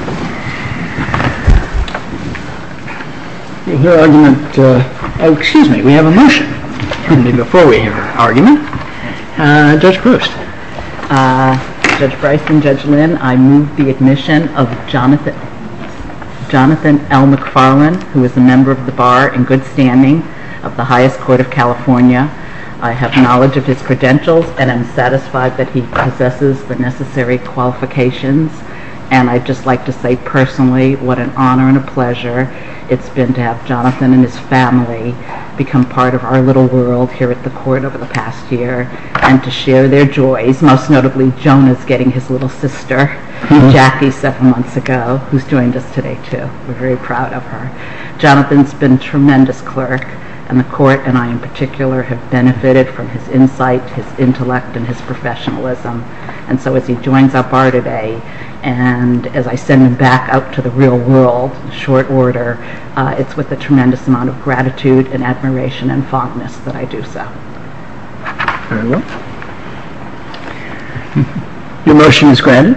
I move the admission of Jonathan L. McFarlane, who is a member of the Bar in Good Standing of the Highest Court of California. I have knowledge of his credentials and am satisfied that he possesses the necessary qualifications and I'd just like to say personally what an honor and a pleasure it's been to have Jonathan and his family become part of our little world here at the court over the past year and to share their joys, most notably Jonah's getting his little sister, Jackie, seven months ago, who's joined us today too. We're very proud of her. Jonathan's been a tremendous clerk and the court and I in particular have benefited from his insight, his intellect, and his professionalism and so as he joins up our today and as I send him back out to the real world, short order, it's with a tremendous amount of gratitude and admiration and fondness that I do so. Your motion is granted.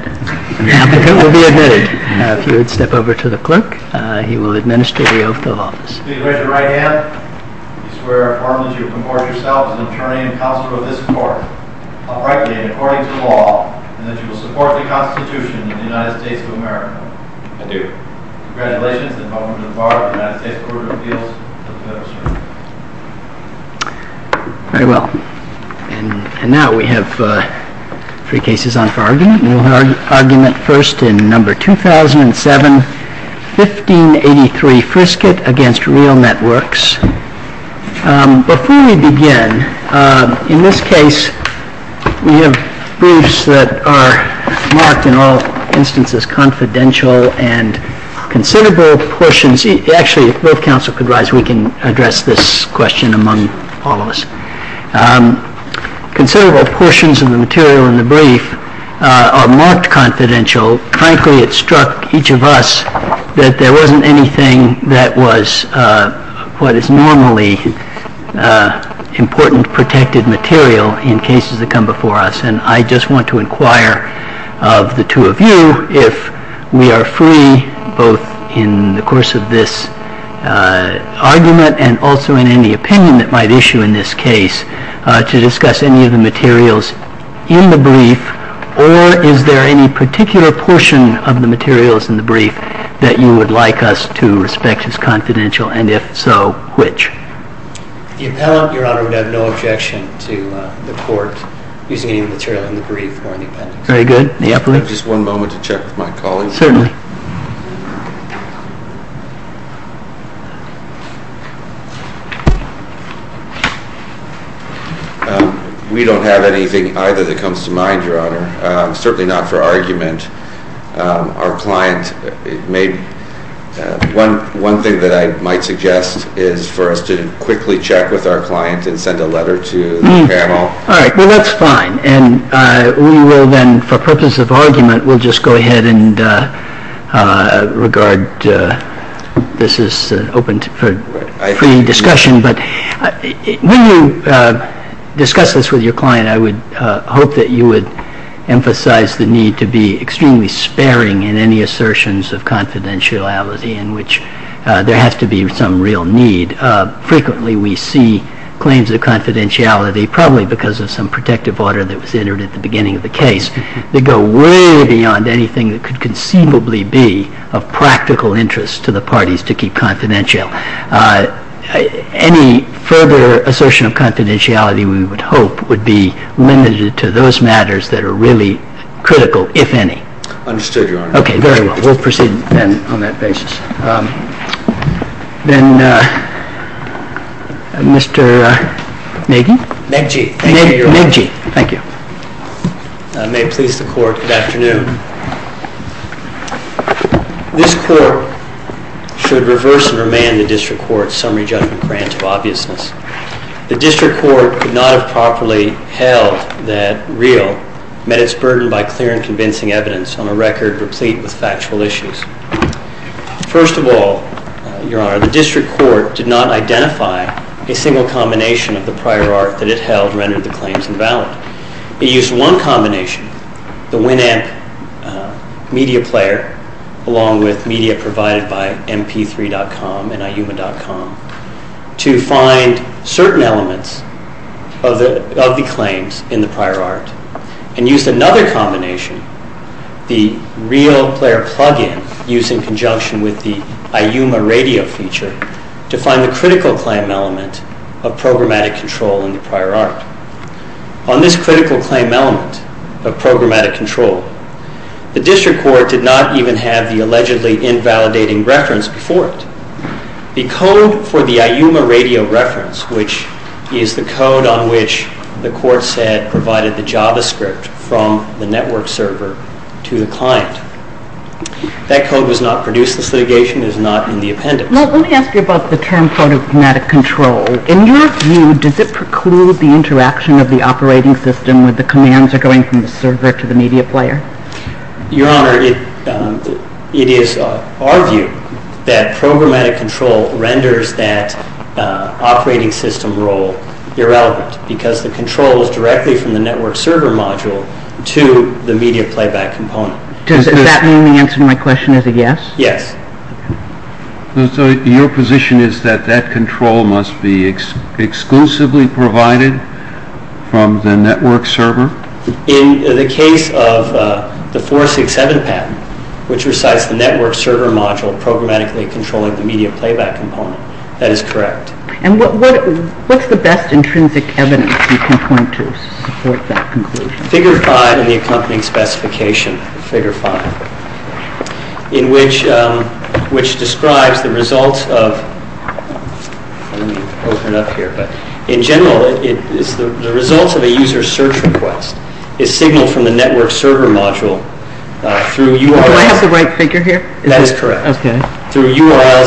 If you would step over to the clerk, he will administer the oath of office. I do. Congratulations and welcome to the Bar of the United States Court of Appeals. Very well and now we have three cases on 1583 Frisket against real networks. Before we begin, in this case we have briefs that are marked in all instances confidential and considerable portions, actually if both counsel could rise we can address this question among all of us. Considerable portions of the material in the brief are marked confidential. Frankly it struck each of us that there wasn't anything that was what is normally important protected material in cases that come before us and I just want to inquire of the two of you if we are free both in the course of this argument and also in any opinion that might issue in this case to discuss any of the materials in the brief or is there any particular portion of the materials in the brief that you would like us to respect as confidential and if so, which? The appellant, your honor, would have no objection to the court using any of the material in the brief or in the appendix. Very good. May I have just one moment to check with my colleagues? Certainly. We don't have anything either that comes to mind, your honor. Certainly not for argument. Our client may, one thing that I might suggest is for us to quickly check with our client and send a letter to the panel. All right, well that's fine and we will then, for purpose of argument, we'll just go ahead and move on to the next item, which is confidentiality. I would like to ask you, your honor, regarding this is open for free discussion, but when you discuss this with your client I would hope that you would emphasize the need to be extremely sparing in any assertions of confidentiality in which there has to be some real need. Frequently we see claims of confidentiality, probably because of some protective order that was entered at the beginning of the case, that go way beyond anything that could conceivably be of practical interest to the parties to keep confidential. Any further assertion of confidentiality, we would hope, would be limited to those matters that are really critical, if any. Understood, your honor. Okay, very well. We'll proceed then on that basis. Then, Mr. Nagy? Nagy, thank you, your honor. Nagy, thank you. May it please the court, good afternoon. This court should reverse and remand the district court's summary judgment grant of obviousness. The district court could not have properly held that real met its burden by clear and convincing evidence on a record replete with factual issues. First of all, your honor, the district court did not identify a single combination of the prior art that it held rendered the claims invalid. It used one combination, the Winamp media player, along with media provided by MP3.com and iUma.com, to find certain elements of the claims in the prior art, and used another combination, the real player plug-in, used in conjunction with the iUma radio feature, to find the critical claim element of programmatic control in the prior art. On this critical claim element of programmatic control, the district court did not even have the allegedly invalidating reference before it. The code for the iUma radio reference, which is the code on which the court said provided the JavaScript from the network server to the client, that code was not produced in this litigation. It is not in the appendix. Well, let me ask you about the term programmatic control. In your view, does it preclude the interaction of the operating system with the commands that are going from the server to the media player? Your honor, it is our view that programmatic control renders that operating system role irrelevant, because the control is directly from the network server module to the media playback component. Does that mean the answer to my question is a yes? Yes. So your position is that that control must be exclusively provided from the network server? In the case of the 467 patent, which recites the network server module programmatically controlling the media playback component, that is correct. And what's the best intrinsic evidence you can point to to support that conclusion? Figure 5 in the accompanying specification, figure 5, which describes the results of a user's search request is signaled from the network server module through URLs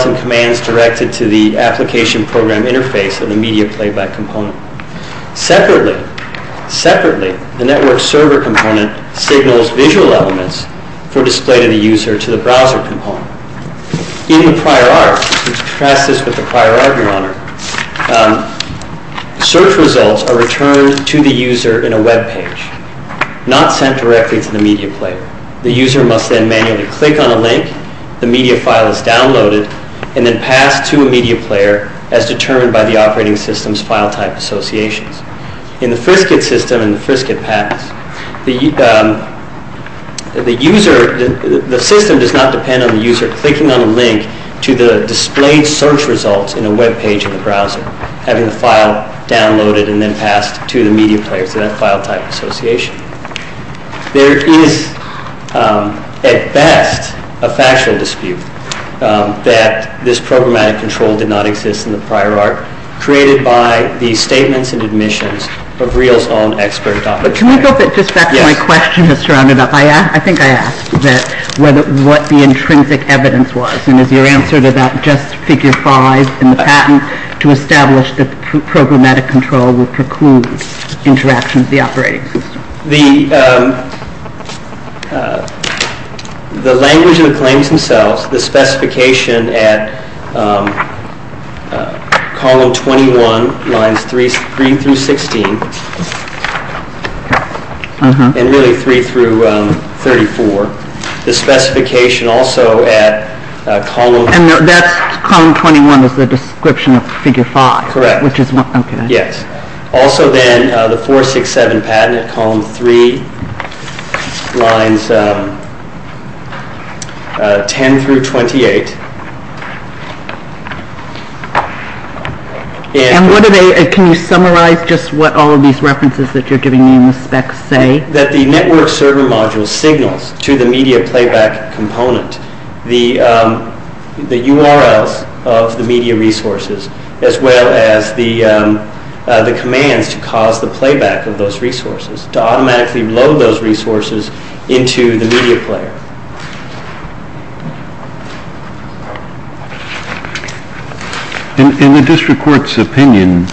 and commands directed to the application program interface of the media playback component. Separately, the network server component signals visual elements for display to the user to the browser component. In the prior art, contrast this with the prior art, your honor, search results are returned to the user in a web page, not sent directly to the media player. The user must then manually click on a link, the media file is downloaded, and then passed to a media player as determined by the operating system's file type associations. In the Frisket system and the Frisket patents, the system does not depend on the user clicking on a link to the displayed search results in a web page in the browser, having the file downloaded and then passed to the media players in that file type association. There is, at best, a factual dispute that this programmatic control did not exist in the prior art, created by the statements and admissions of Reel's own expert Dr. The language of the claims themselves, the specification at column 21, lines 3 through 16, and really 3 through 34, the specification also at column 21 is the description of figure 5. Correct. Which is what, okay. Yes. Also then, the 467 patent at column 3, lines 10 through 28, and- And what are they, can you summarize just what all of these references that you're giving me in the specs say? That the network server module signals to the media playback component, the URLs of the media resources, as well as the commands to cause the playback of those resources, to automatically load those resources into the media player. In the district court's opinion,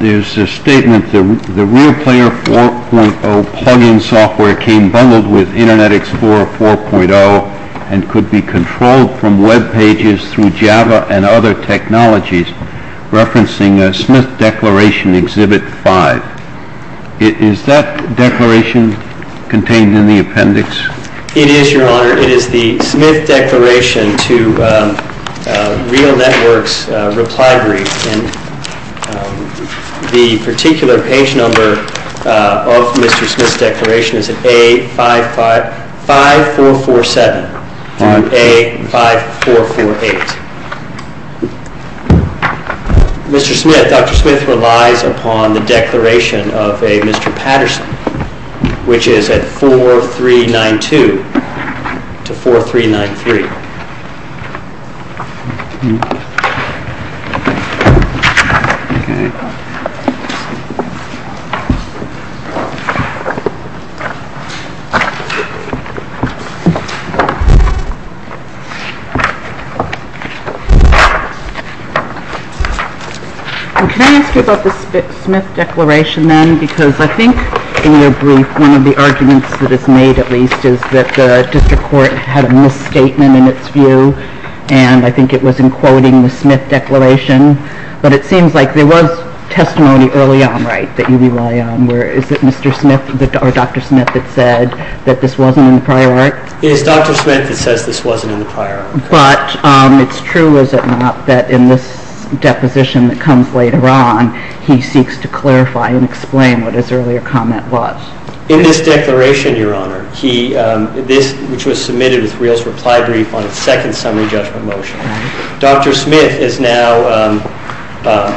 there's a statement that the ReelPlayer 4.0 plug-in software came bundled with Internet Explorer 4.0 and could be controlled from web pages through Java and other technologies, referencing Smith Declaration Exhibit 5. Is that declaration contained in the appendix? It is, Your Honor. It is the Smith Declaration to Reel Network's reply brief, and the particular page number of Mr. Smith's declaration is at A5447 through A5448. Mr. Smith, Dr. Smith relies upon the declaration of a Mr. Patterson, which is at 4392 to 4393. Can I ask you about the Smith Declaration then, because I think in your brief, one of the arguments that is made, at least, is that the district court had a misstatement in its view, and I think it was in quoting the Smith Declaration, but it seems like there was testimony early on, right, that you rely on, where is it Mr. Smith, or Dr. Smith, that said that this wasn't in the prior art? It is Dr. Smith that says this wasn't in the prior art. But it's true, is it not, that in this deposition that comes later on, he seeks to clarify and explain what his earlier comment was. In this declaration, Your Honor, which was submitted with Reel's reply brief on its second summary judgment motion, Dr. Smith is now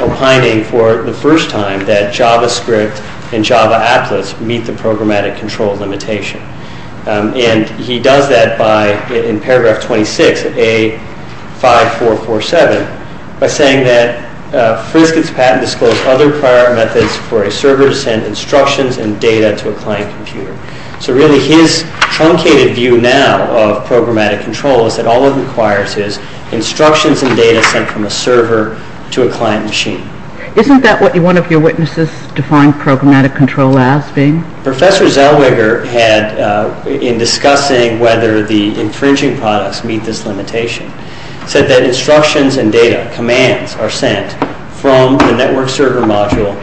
opining for the first time that JavaScript and Java Atlas meet the programmatic control limitation. And he does that by, in paragraph 26, A5447, by saying that Frisket's patent disclosed other prior art methods for a server to send instructions and data to a client computer. So really, his truncated view now of programmatic control is that all it requires is instructions and data sent from a server to a client machine. Isn't that what one of your witnesses defined programmatic control as being? Professor Zellweger had, in discussing whether the infringing products meet this limitation, said that instructions and data, commands, are sent from the network server module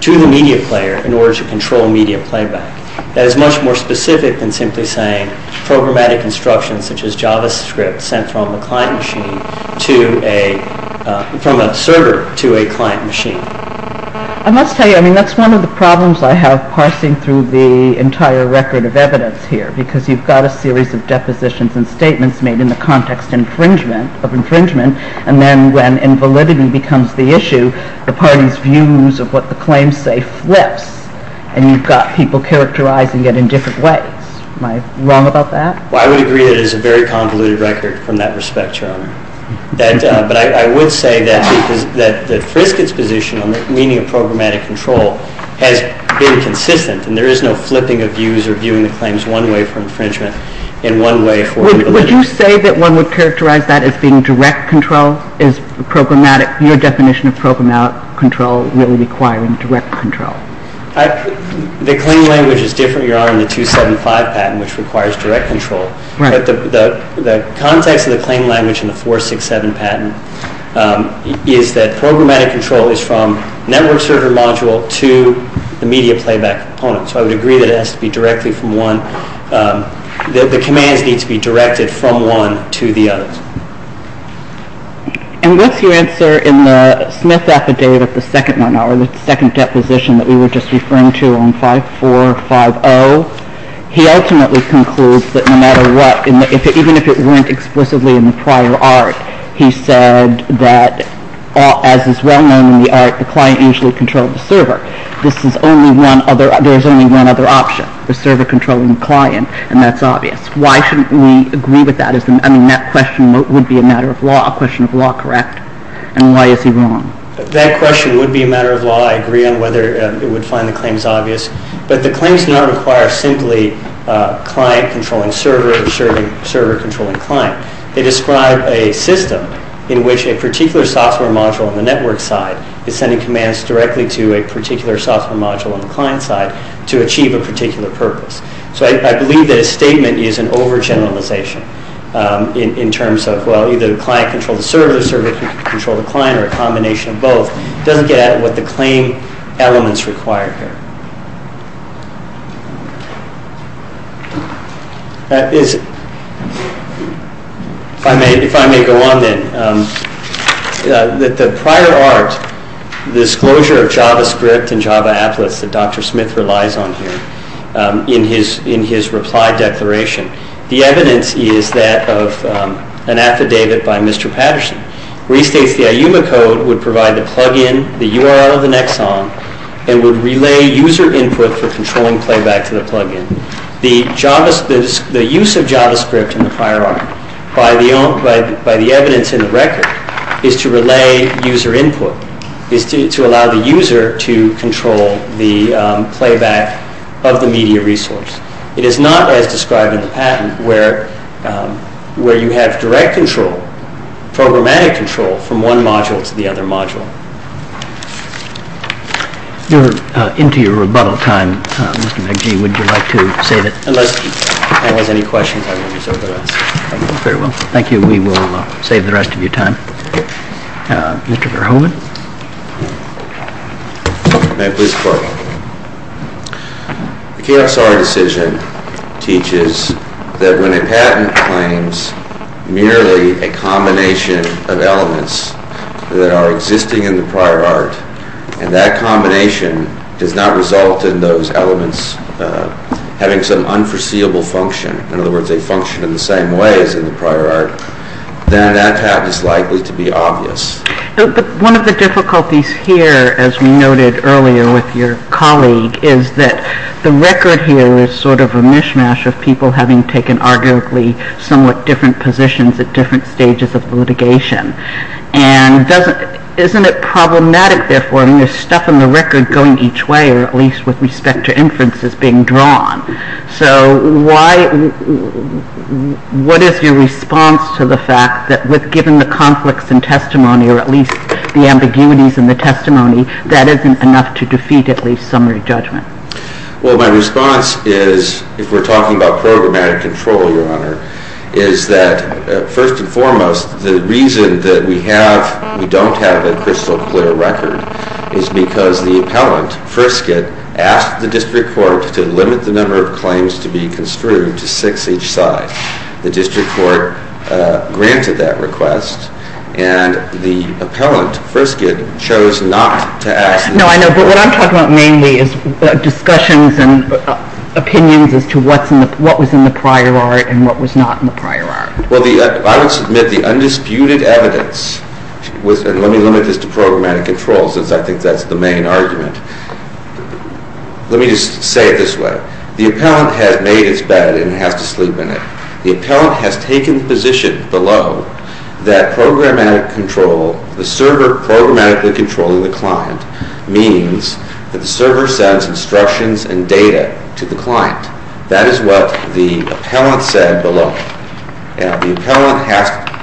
to the media player in order to control media playback. That is much more specific than simply saying programmatic instructions such as JavaScript sent from a client machine to a, from a server to a client machine. I must tell you, I mean, that's one of the problems I have parsing through the entire record of evidence here, because you've got a series of depositions and statements made in the context infringement, of infringement, and then when invalidity becomes the issue, the party's views of what the claims say flips, and you've got people characterizing it in different ways. Am I wrong about that? Well, I would agree that it is a very convoluted record from that respect, Your Honor. But I would say that Frisket's position on the meaning of programmatic control has been consistent, and there is no flipping of views or viewing the claims one way for infringement and one way for invalidity. Would you say that one would characterize that as being direct control? Is programmatic, your definition of programmatic control really requiring direct control? The claim language is different, Your Honor, than the 275 patent, which requires direct control. But the context of the claim language in the 467 patent is that programmatic control is from network server module to the media playback component. So I would agree that it has to be directly from one, that the commands need to be directed from one to the others. And what's your answer in the Smith affidavit, the second one, or the second deposition that we were just referring to on 5450? He ultimately concludes that no matter what, even if it weren't explicitly in the prior art, he said that as is well known in the art, the client usually controlled the server. This is only one other, there's only one other option, the server controlling the client, and that's obvious. Why shouldn't we agree with that? I mean, that question would be a matter of law, a question of law, correct? And why is he wrong? That question would be a matter of law, I agree on whether it would find the claims obvious. But the claims do not require simply client controlling server or server controlling client. They describe a system in which a particular software module on the network side is sending commands directly to a particular software module on the client side to achieve a particular purpose. So I believe that his statement is an overgeneralization in terms of, well, either the client controls the server, the server controls the client, or a combination of both. It doesn't get at what the claim elements require here. If I may go on then, that the prior art, the disclosure of JavaScript and Java applets that Dr. Smith relies on here in his reply declaration. The evidence is that of an affidavit by Mr. Patterson. Restates the IUMA code would provide the plug-in, the URL of the Nexon, and would relay user input for controlling playback to the plug-in. The use of JavaScript in the prior art by the evidence in the record is to relay user input, is to allow the user to control the playback of the media resource. It is not as described in the patent where you have direct control, programmatic control from one module to the other module. You're into your rebuttal time, Mr. McG, would you like to save it? Unless anyone has any questions, I will reserve the rest. Very well, thank you. We will save the rest of your time. Mr. Verhoeven? May I please report? The KSR decision teaches that when a patent claims merely a combination of elements that are existing in the prior art, and that combination does not result in those elements having some unforeseeable function. In other words, they function in the same way as in the prior art. Then that patent is likely to be obvious. One of the difficulties here, as we noted earlier with your colleague, is that the record here is sort of a mishmash of people having taken arguably somewhat different positions at different stages of litigation. And isn't it problematic, therefore, when there's stuff in the record going each way, or at least with respect to inferences being drawn? So what is your response to the fact that given the conflicts in testimony, or at least the ambiguities in the testimony, that isn't enough to defeat at least summary judgment? Well, my response is, if we're talking about programmatic control, Your Honor, is that first and foremost, the reason that we don't have a crystal clear record is because the appellant, Frisket, asked the District Court to limit the number of claims to be construed to six each side. The District Court granted that request, and the appellant, Frisket, chose not to ask. No, I know, but what I'm talking about mainly is discussions and opinions as to what was in the prior art and what was not in the prior art. Well, I would submit the undisputed evidence was, and let me limit this to programmatic controls, as I think that's the main argument. Let me just say it this way. The appellant has made its bed and has to sleep in it. The appellant has taken the position below that programmatic control, the server programmatically controlling the client, means that the server sends instructions and data to the client. That is what the appellant said below. Now, the appellant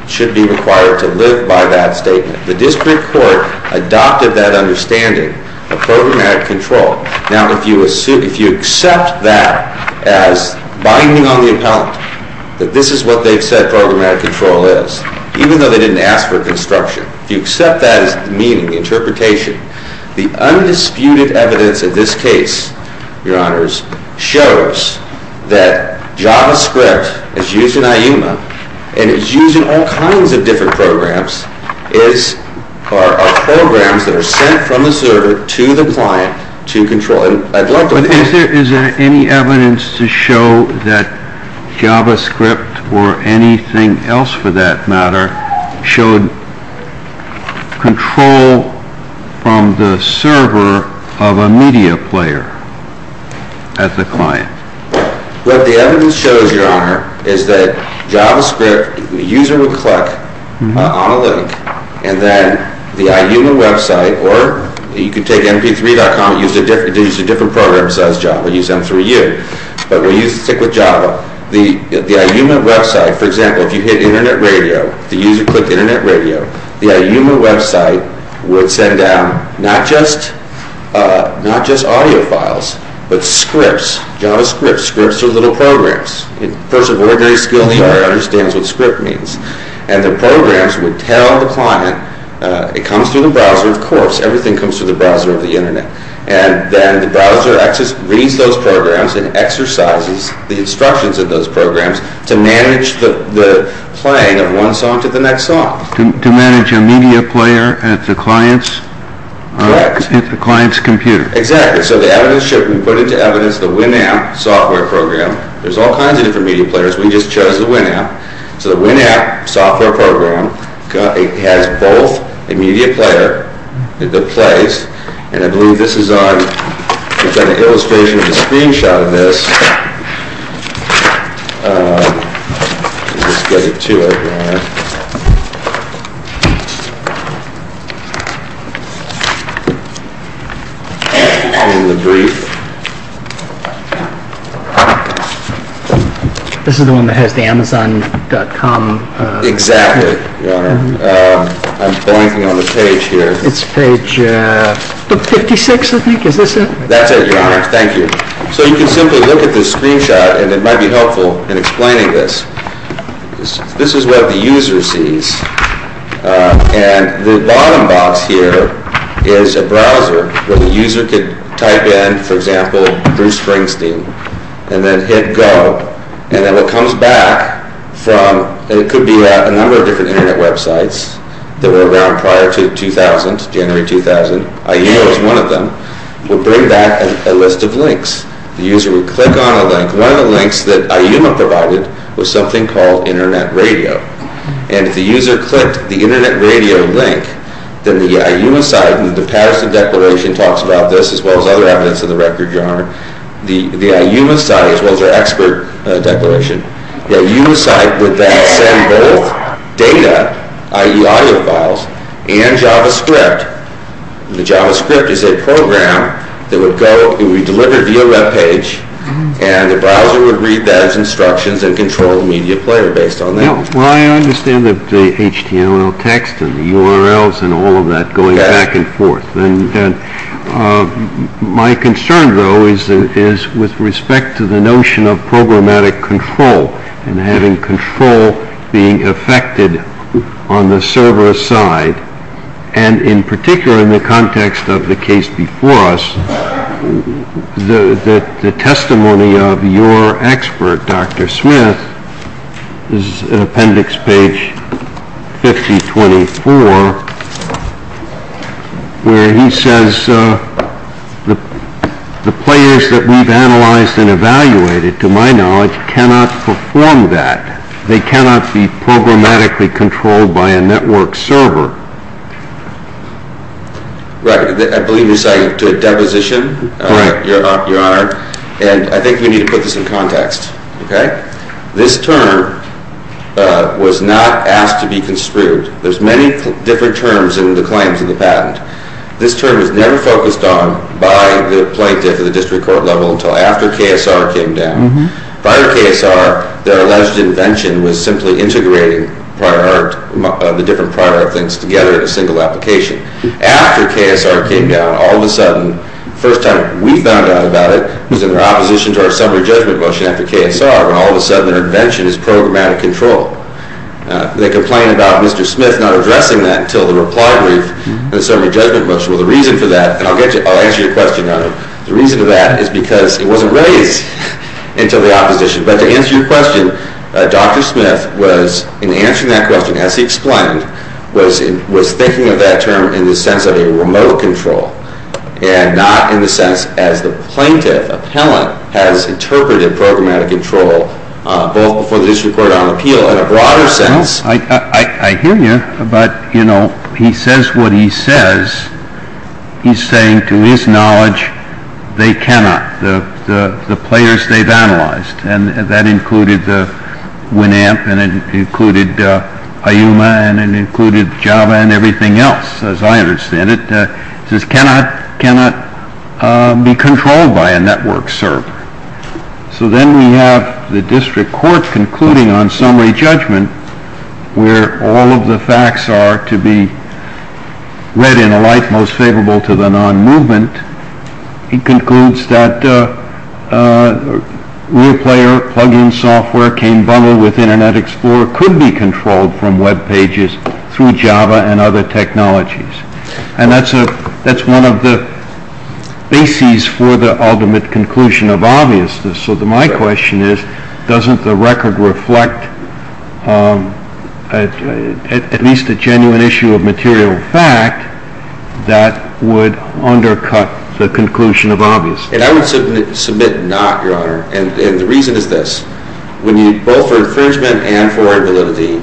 should be required to live by that statement. The District Court adopted that understanding of programmatic control. Now, if you accept that as binding on the appellant, that this is what they've said programmatic control is, even though they didn't ask for construction, if you accept that as the meaning, the interpretation, the undisputed evidence of this case, Your Honors, shows that JavaScript is used in IUMA and is used in all kinds of different programs are programs that are sent from the server to the client to control. And I'd love to... Is there any evidence to show that JavaScript or anything else for that matter showed control from the server of a media player at the client? What the evidence shows, Your Honor, is that JavaScript, the user would click on a link and then the IUMA website, or you could take mp3.com and use a different program such as Java, use m3u, but we'll stick with Java. The IUMA website, for example, if you hit internet radio, the user clicked internet radio, the IUMA website would send down not just audio files, but scripts, JavaScript scripts or little programs. A person of ordinary skill in the art understands what script means. And the programs would tell the client, it comes through the browser, of course, everything comes through the browser of the internet. And then the browser reads those programs and exercises the instructions of those programs to manage the playing of one song to the next song. To manage a media player at the client's computer. Exactly. So the evidence should be put into evidence, the Winamp software program, there's all kinds of different media players, we just chose the Winamp. So the Winamp software program has both a media player that plays, and I believe this is on, it's got an illustration of a screenshot of this. Let's get it to it, Your Honor. This is the one that has the Amazon.com. Exactly, Your Honor. I'm blanking on the page here. It's page 56, I think, is this it? That's it, Your Honor. Thank you. So you can simply look at this screenshot, and it might be helpful in explaining this. This is what the user sees. And the bottom box here is a browser where the user could type in, for example, Bruce Springsteen. And then hit go. And then it comes back from, and it could be a number of different internet websites that were around prior to 2000, January 2000. IUMA was one of them. We'll bring back a list of links. The user would click on a link. One of the links that IUMA provided was something called internet radio. And if the user clicked the internet radio link, then the IUMA site, and the Patterson Declaration talks about this as well as other evidence of the record, Your Honor. The IUMA site, as well as their expert declaration, the IUMA site would then send both data, i.e. audio files, and JavaScript. The JavaScript is a program that would be delivered via web page. And the browser would read that as instructions and control the media player based on that. Well, I understand the HTML text and the URLs and all of that going back and forth. And my concern, though, is with respect to the notion of programmatic control and having control being affected on the server side. And in particular, in the context of the case before us, the testimony of your expert, Dr. Smith, is in appendix page 5024, where he says, the players that we've analyzed and evaluated, to my knowledge, cannot perform that. They cannot be programmatically controlled by a network server. Right. I believe you're citing to a deposition, Your Honor. And I think we need to put this in context, OK? This term was not asked to be construed. There's many different terms in the claims of the patent. This term was never focused on by the plaintiff at the district court level until after KSR came down. Prior to KSR, their alleged invention was simply integrating the different prior art things together in a single application. After KSR came down, all of a sudden, first time we found out about it was in their opposition to our summary judgment motion after KSR, when all of a sudden their invention is programmatic control. They complain about Mr. Smith not addressing that until the reply brief and the summary judgment motion. Well, the reason for that, and I'll answer your question, Your Honor. The reason for that is because it wasn't raised until the opposition. But to answer your question, Dr. Smith was, in answering that question, as he explained, was thinking of that term in the sense of a remote control, and not in the sense as the plaintiff, appellant, has interpreted programmatic control, both before the district court and on appeal. In a broader sense, I hear you, but he says what he says. He's saying, to his knowledge, they cannot, the players they've analyzed. And that included the WNAMP, and it included IUMA, and it included Java, and everything else, as I understand it, just cannot be controlled by a network server. So then we have the district court concluding on summary judgment, where all of the facts are to be read in a light most favorable to the non-movement. He concludes that real player plug-in software can bundle with Internet Explorer, could be controlled from web pages through Java and other technologies. And that's one of the bases for the ultimate conclusion of obviousness. So my question is, doesn't the record reflect at least a genuine issue of material fact that would undercut the conclusion of obviousness? And I would submit not, Your Honor. And the reason is this. When you, both for infringement and for validity,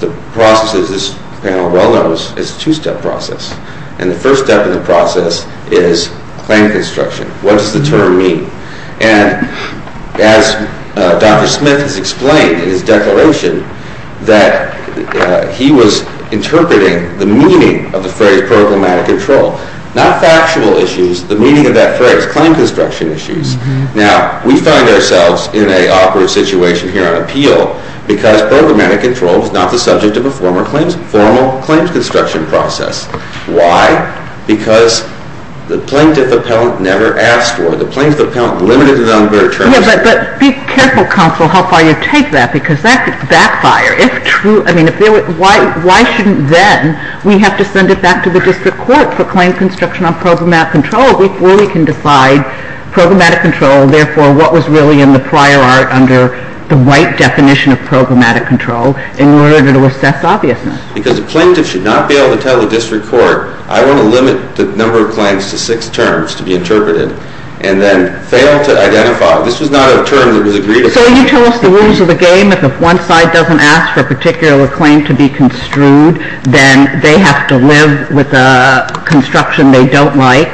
the process of this panel well knows it's a two-step process. And the first step in the process is claim construction. What does the term mean? And as Dr. Smith has explained in his declaration, that he was interpreting the meaning of the phrase programmatic control. Not factual issues, the meaning of that phrase, claim construction issues. Now, we find ourselves in an awkward situation here on appeal, because programmatic control is not the subject of a formal claims construction process. Why? Because the plaintiff appellant never asked for it. The plaintiff appellant limited it on their terms. Yeah, but be careful, counsel, how far you take that. Because that could backfire. If true, I mean, why shouldn't then we have to send it back to the district court for claim construction on programmatic control? We fully can decide programmatic control, therefore, what was really in the prior art under the right definition of programmatic control in order to assess obviousness. Because the plaintiff should not be able to tell the district court, I want to limit the number of claims to six terms to be interpreted. And then fail to identify. This was not a term that was agreed upon. So you tell us the rules of the game, that if one side doesn't ask for a particular claim to be construed, then they have to live with the construction they don't like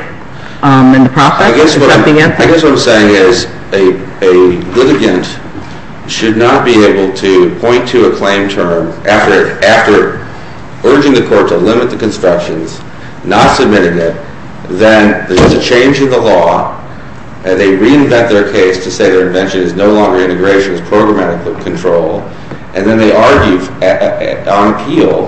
in the process? I guess what I'm saying is a litigant should not be able to point to a claim term after urging the court to limit the constructions, not submitting it, then there's a change in the law. And they reinvent their case to say their invention is no longer integrationist programmatic control. And then they argue on appeal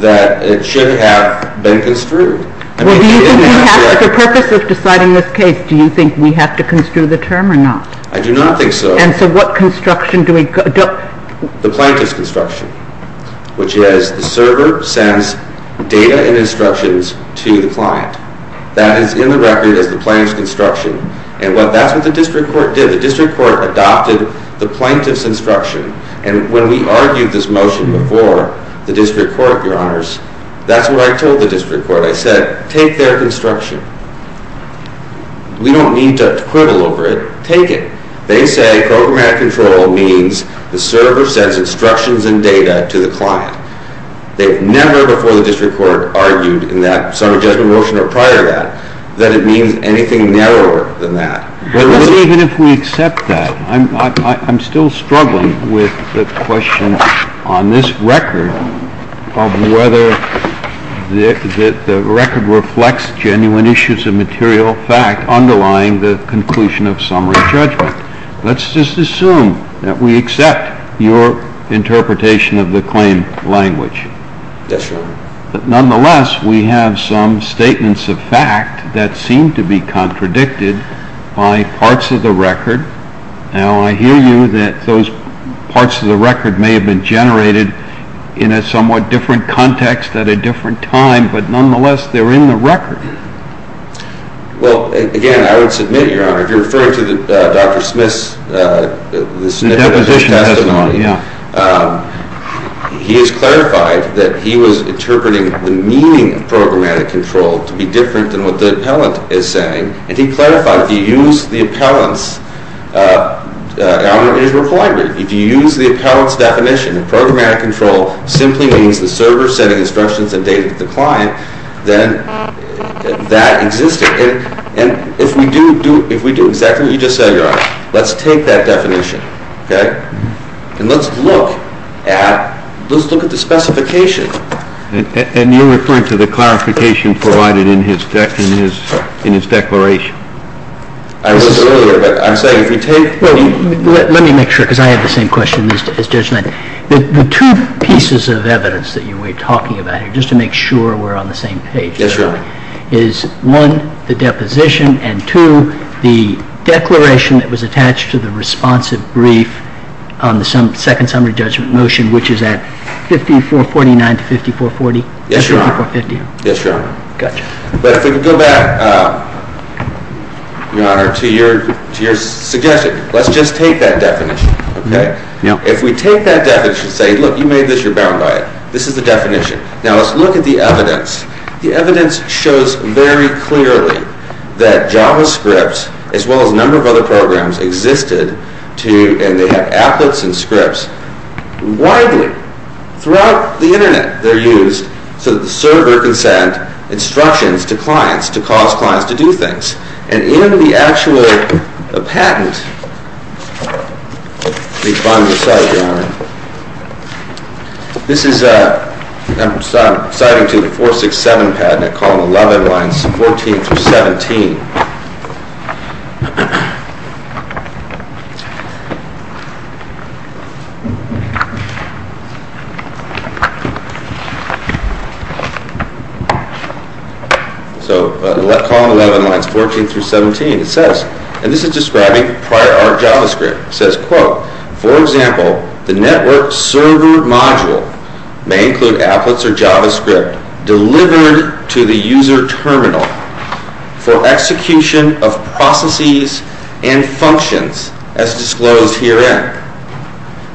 that it should have been construed. Well, the purpose of deciding this case, do you think we have to construe the term or not? I do not think so. And so what construction do we go? The plaintiff's construction, which is the server sends data and instructions to the client. That is in the record as the plaintiff's construction. And that's what the district court did. The district court adopted the plaintiff's instruction. And when we argued this motion before the district court, your honors, that's what I told the district court. I said, take their construction. We don't need to quibble over it. Take it. They say programmatic control means the server sends instructions and data to the client. They never before the district court argued in that summary judgment motion or prior to that, that it means anything narrower than that. Well, even if we accept that, I'm still struggling with the question on this record of whether the record reflects genuine issues of material fact underlying the conclusion of summary judgment. Let's just assume that we accept your interpretation of the claim language. Yes, your honor. Nonetheless, we have some statements of fact that seem to be contradicted by parts of the record. Now, I hear you that those parts of the record may have been generated in a somewhat different context at a different time. Well, again, I would submit, your honor, if you're referring to Dr. Smith's testimony, he has clarified that he was interpreting the meaning of programmatic control to be different than what the appellant is saying. And he clarified, if you use the appellant's algorithmic language, if you use the appellant's definition, the programmatic control simply means the server sending instructions and data to the client, then that existed. And if we do exactly what you just said, your honor, let's take that definition, OK? And let's look at the specification. And you're referring to the clarification provided in his declaration. I was earlier, but I'm saying, if you take what he did. Let me make sure, because I have the same question as Judge Knight. The two pieces of evidence that you were talking about here, just to make sure we're on the same page. Yes, your honor. Is one, the deposition. And two, the declaration that was attached to the responsive brief on the second summary judgment motion, which is at 5449 to 5440. Yes, your honor. Yes, your honor. Gotcha. But if we could go back, your honor, to your suggestion. Let's just take that definition, OK? If we take that definition and say, look, you made this, you're bound by it. This is the definition. Now, let's look at the evidence. The evidence shows very clearly that JavaScript, as well as a number of other programs, existed to, and they have applets and scripts, widely, throughout the internet. They're used so that the server can send instructions to clients, to cause clients to do things. And in the actual patent, let me find this out, your honor. I'm citing to the 467 patent at column 11, lines 14 through 17. So column 11, lines 14 through 17, it says, and this is describing prior art JavaScript, says, quote, for example, the network server module may include applets or JavaScript delivered to the user terminal for execution of processes and functions as disclosed herein.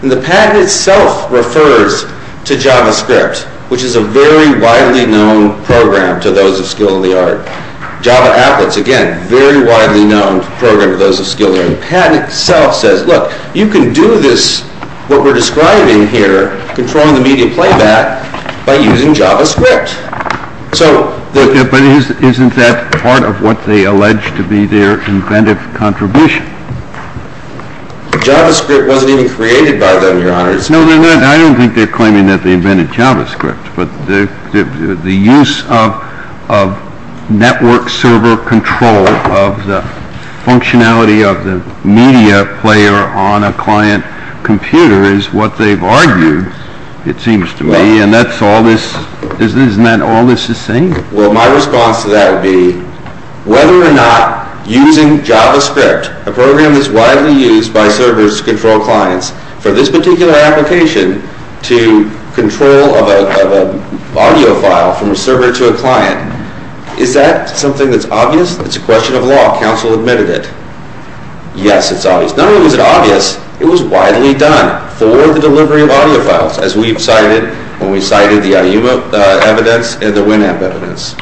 And the patent itself refers to JavaScript, which is a very widely known program to those of skill in the art. Java applets, again, very widely known program to those of skill in the art. The patent itself says, look, you can do this, what we're describing here, controlling the media playback by using JavaScript. So the- But isn't that part of what they allege to be their inventive contribution? JavaScript wasn't even created by them, your honors. No, I don't think they're claiming that they invented JavaScript. But the use of network server control of the functionality of the media player on a client computer is what they've argued, it seems to me. And that's all this, isn't that all this is saying? Well, my response to that would be, whether or not using JavaScript, a program that's widely used by servers to control clients, for this particular application to control of an audio file from a server to a client, is that something that's obvious? It's a question of law. Council admitted it. Yes, it's obvious. Not only was it obvious, it was widely done for the delivery of audio files, as we've cited when we cited the IUMO evidence and the Winamp evidence.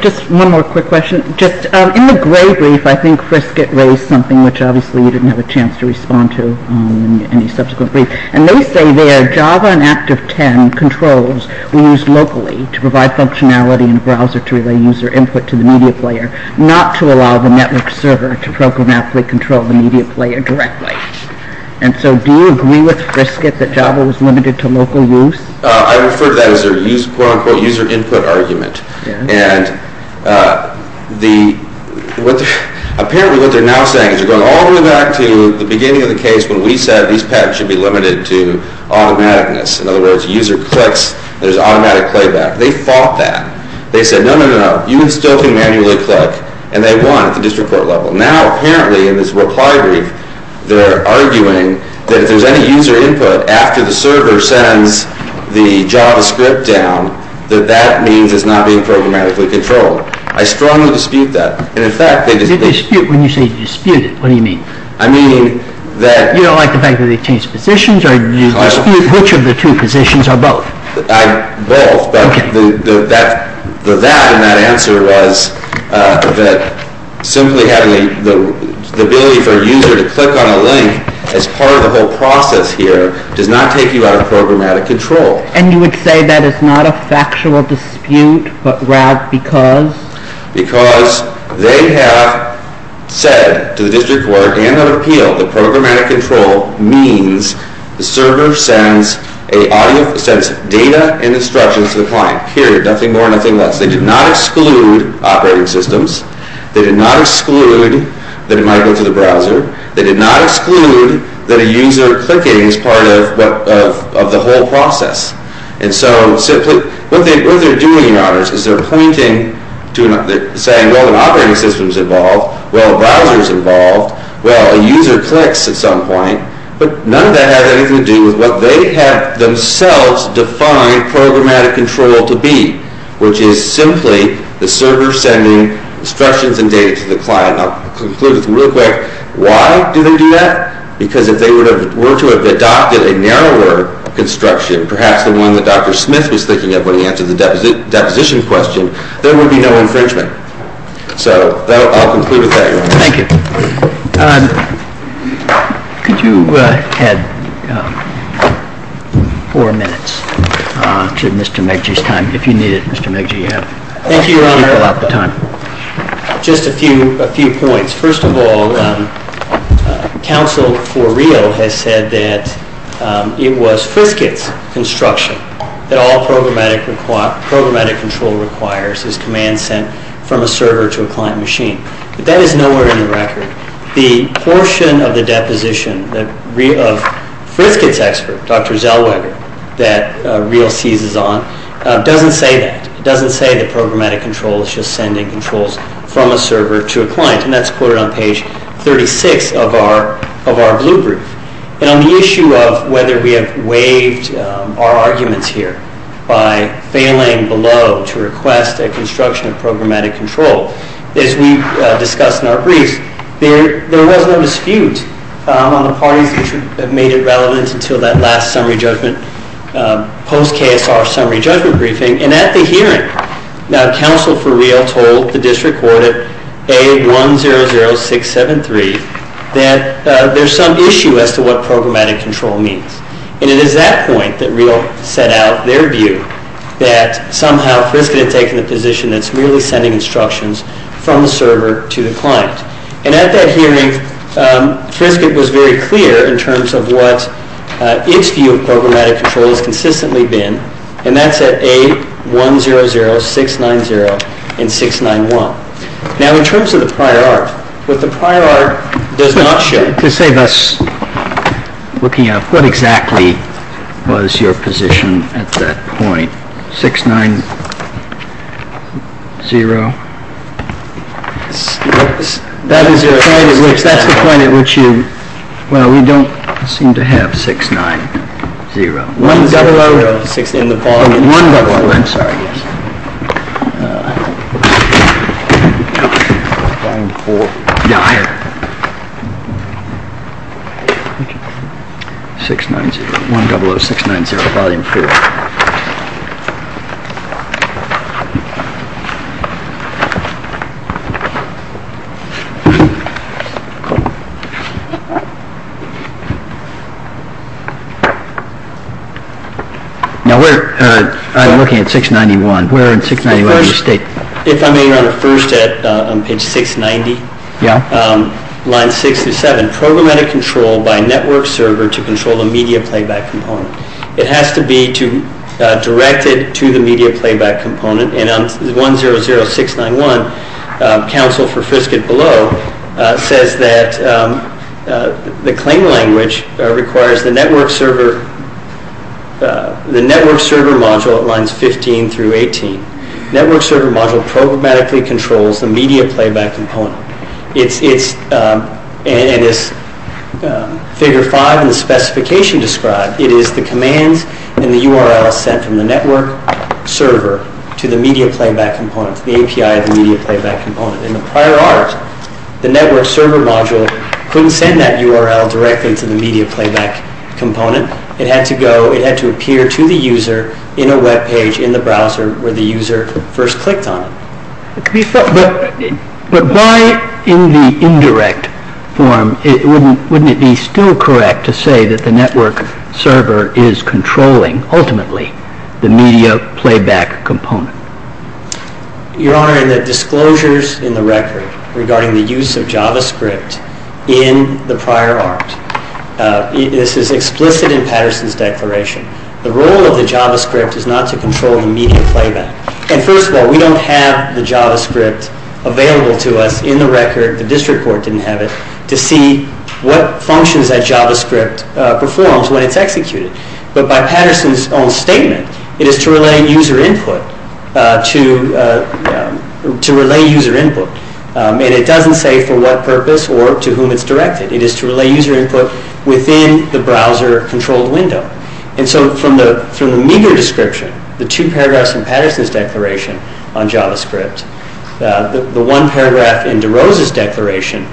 Just one more quick question. Just in the Gray brief, I think Frisket raised something which, obviously, you didn't have a chance to respond to in any subsequent brief. And they say their Java and Active10 controls were used locally to provide functionality in a browser to relay user input to the media player. Not to allow the network server to programmatically control the media player directly. And so, do you agree with Frisket that Java was limited to local use? I refer to that as their quote, unquote, user input argument. And apparently, what they're now saying is they're going all the way back to the beginning of the case when we said these patterns should be limited to automaticness. In other words, a user clicks, there's automatic playback. They fought that. They said, no, no, no, no, you still can manually click. And they won at the district court level. Now, apparently, in this reply brief, they're arguing that if there's any user input after the server sends the JavaScript down, that that means it's not being programmatically controlled. I strongly dispute that. And in fact, they just didn't. When you say dispute it, what do you mean? I mean that. You don't like the fact that they've changed positions? Or do you dispute which of the two positions are both? Both. But the that in that answer was that simply having the ability for a user to click on a link as part of the whole process here does not take you out of programmatic control. And you would say that is not a factual dispute, but rather because? Because they have said to the district court and on appeal that programmatic control means the server sends a sense of data and instructions to the client, period. Nothing more, nothing less. They did not exclude operating systems. They did not exclude that it might go to the browser. They did not exclude that a user clicking is part of the whole process. And so what they're doing, Your Honors, is they're pointing to and saying, well, an operating system's involved. Well, a browser's involved. Well, a user clicks at some point. But none of that has anything to do with what they have themselves defined programmatic control to be, which is simply the server sending instructions and data to the client. I'll conclude with real quick. Why do they do that? Because if they were to have adopted a narrower construction, perhaps the one that Dr. Smith was thinking of when he answered the deposition question, there would be no infringement. So I'll conclude with that, Your Honor. Thank you. Could you add four minutes to Mr. McGee's time? If you need it, Mr. McGee, you have a lot of time. Just a few points. First of all, counsel for real has said that it was Frisket's construction that all programmatic control requires is command sent from a server to a client machine. That is nowhere in the record. The portion of the deposition of Frisket's expert, Dr. Zellweger, that real seizes on doesn't say that. It doesn't say that programmatic control is just sending controls from a server to a client. And that's quoted on page 36 of our blueprint. And on the issue of whether we have waived our arguments here by failing below to request a construction of programmatic control. As we discussed in our briefs, there was no dispute on the parties that made it relevant until that last summary judgment, post-KSR summary judgment briefing. And at the hearing, counsel for real told the district court at A100673 that there's some issue as to what programmatic control means. And it is at that point that real set out their view that somehow Frisket had taken a position that's really sending instructions from the server to the client. And at that hearing, Frisket was very clear in terms of what its view of programmatic control has consistently been. And that's at A100690 and 691. Now in terms of the prior art, what the prior art does not show. To save us looking up, what exactly was your position at that point? 690. That is your point at which you, well, we don't seem to have 690. 1006 in the volume. 1006, I'm sorry. 690, 100690, volume four. Yeah. Now, we're looking at 691. Where in 691 do you state? If I may, first on page 690. Yeah. Line six through seven, programmatic control by a network server to control the media playback component. It has to be directed to the media playback component. And on 100691, counsel for Frisket below says that the claim language requires the network server module at lines 15 through 18. Network server module programmatically controls the media playback component. And as figure five in the specification described, it is the commands and the URL sent from the network server to the media playback component, the API of the media playback component. In the prior hours, the network server module couldn't send that URL directly to the media playback component. It had to go, it had to appear to the user in a web page in the browser where the user first clicked on it. But by in the indirect form, wouldn't it be still correct to say that the network server is controlling, ultimately, the media playback component? Your Honor, in the disclosures in the record regarding the use of JavaScript in the prior art, this is explicit in Patterson's declaration. The role of the JavaScript is not to control the media playback. And first of all, we don't have the JavaScript available to us in the record. The district court didn't have it to see what functions that JavaScript performs when it's executed. But by Patterson's own statement, it is to relay user input, to relay user input. And it doesn't say for what purpose or to whom it's directed. It is to relay user input within the browser-controlled window. And so from the meager description, the two paragraphs in Patterson's declaration on JavaScript, the one paragraph in DeRose's declaration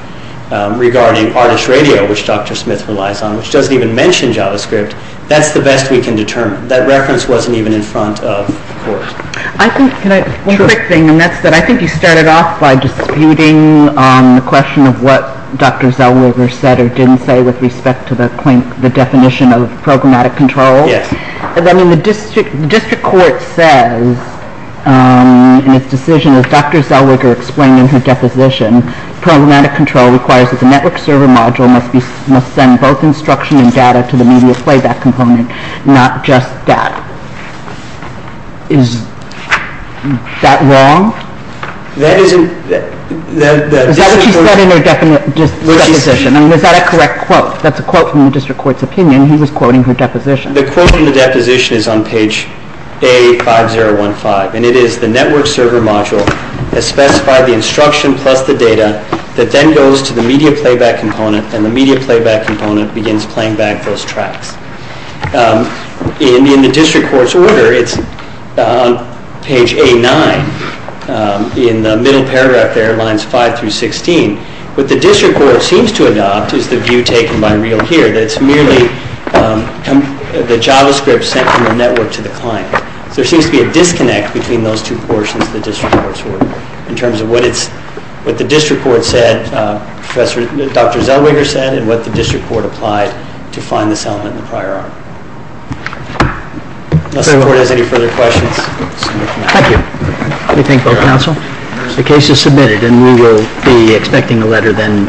regarding artist radio, which Dr. Smith relies on, which doesn't even mention JavaScript, that's the best we can determine. That reference wasn't even in front of the court. I think, can I, one quick thing, and that's that I think you started off by disputing the question of what Dr. Zellweger said or didn't say with respect to the definition of programmatic control. Yes. I mean, the district court says in its decision, as Dr. Zellweger explained in her deposition, programmatic control requires that the network server module must send both instruction and data to the media playback component, not just that. Is that wrong? Is that what she said in her deposition? I mean, is that a correct quote? That's a quote from the district court's opinion. He was quoting her deposition. The quote from the deposition is on page A5015, and it is the network server module has specified the instruction plus the data that then goes to the media playback component, and the media playback component begins playing back those tracks. In the district court's order, it's page A9 in the middle paragraph there, lines 5 through 16. What the district court seems to adopt is the view taken by Reel here, that it's merely the JavaScript sent from the network to the client. There seems to be a disconnect between those two portions of the district court's order in terms of what the district court said, Dr. Zellweger said, and what the district court applied to find this element in the prior article. Unless the court has any further questions. Thank you. We thank both counsel. The case is submitted, and we will be expecting a letter then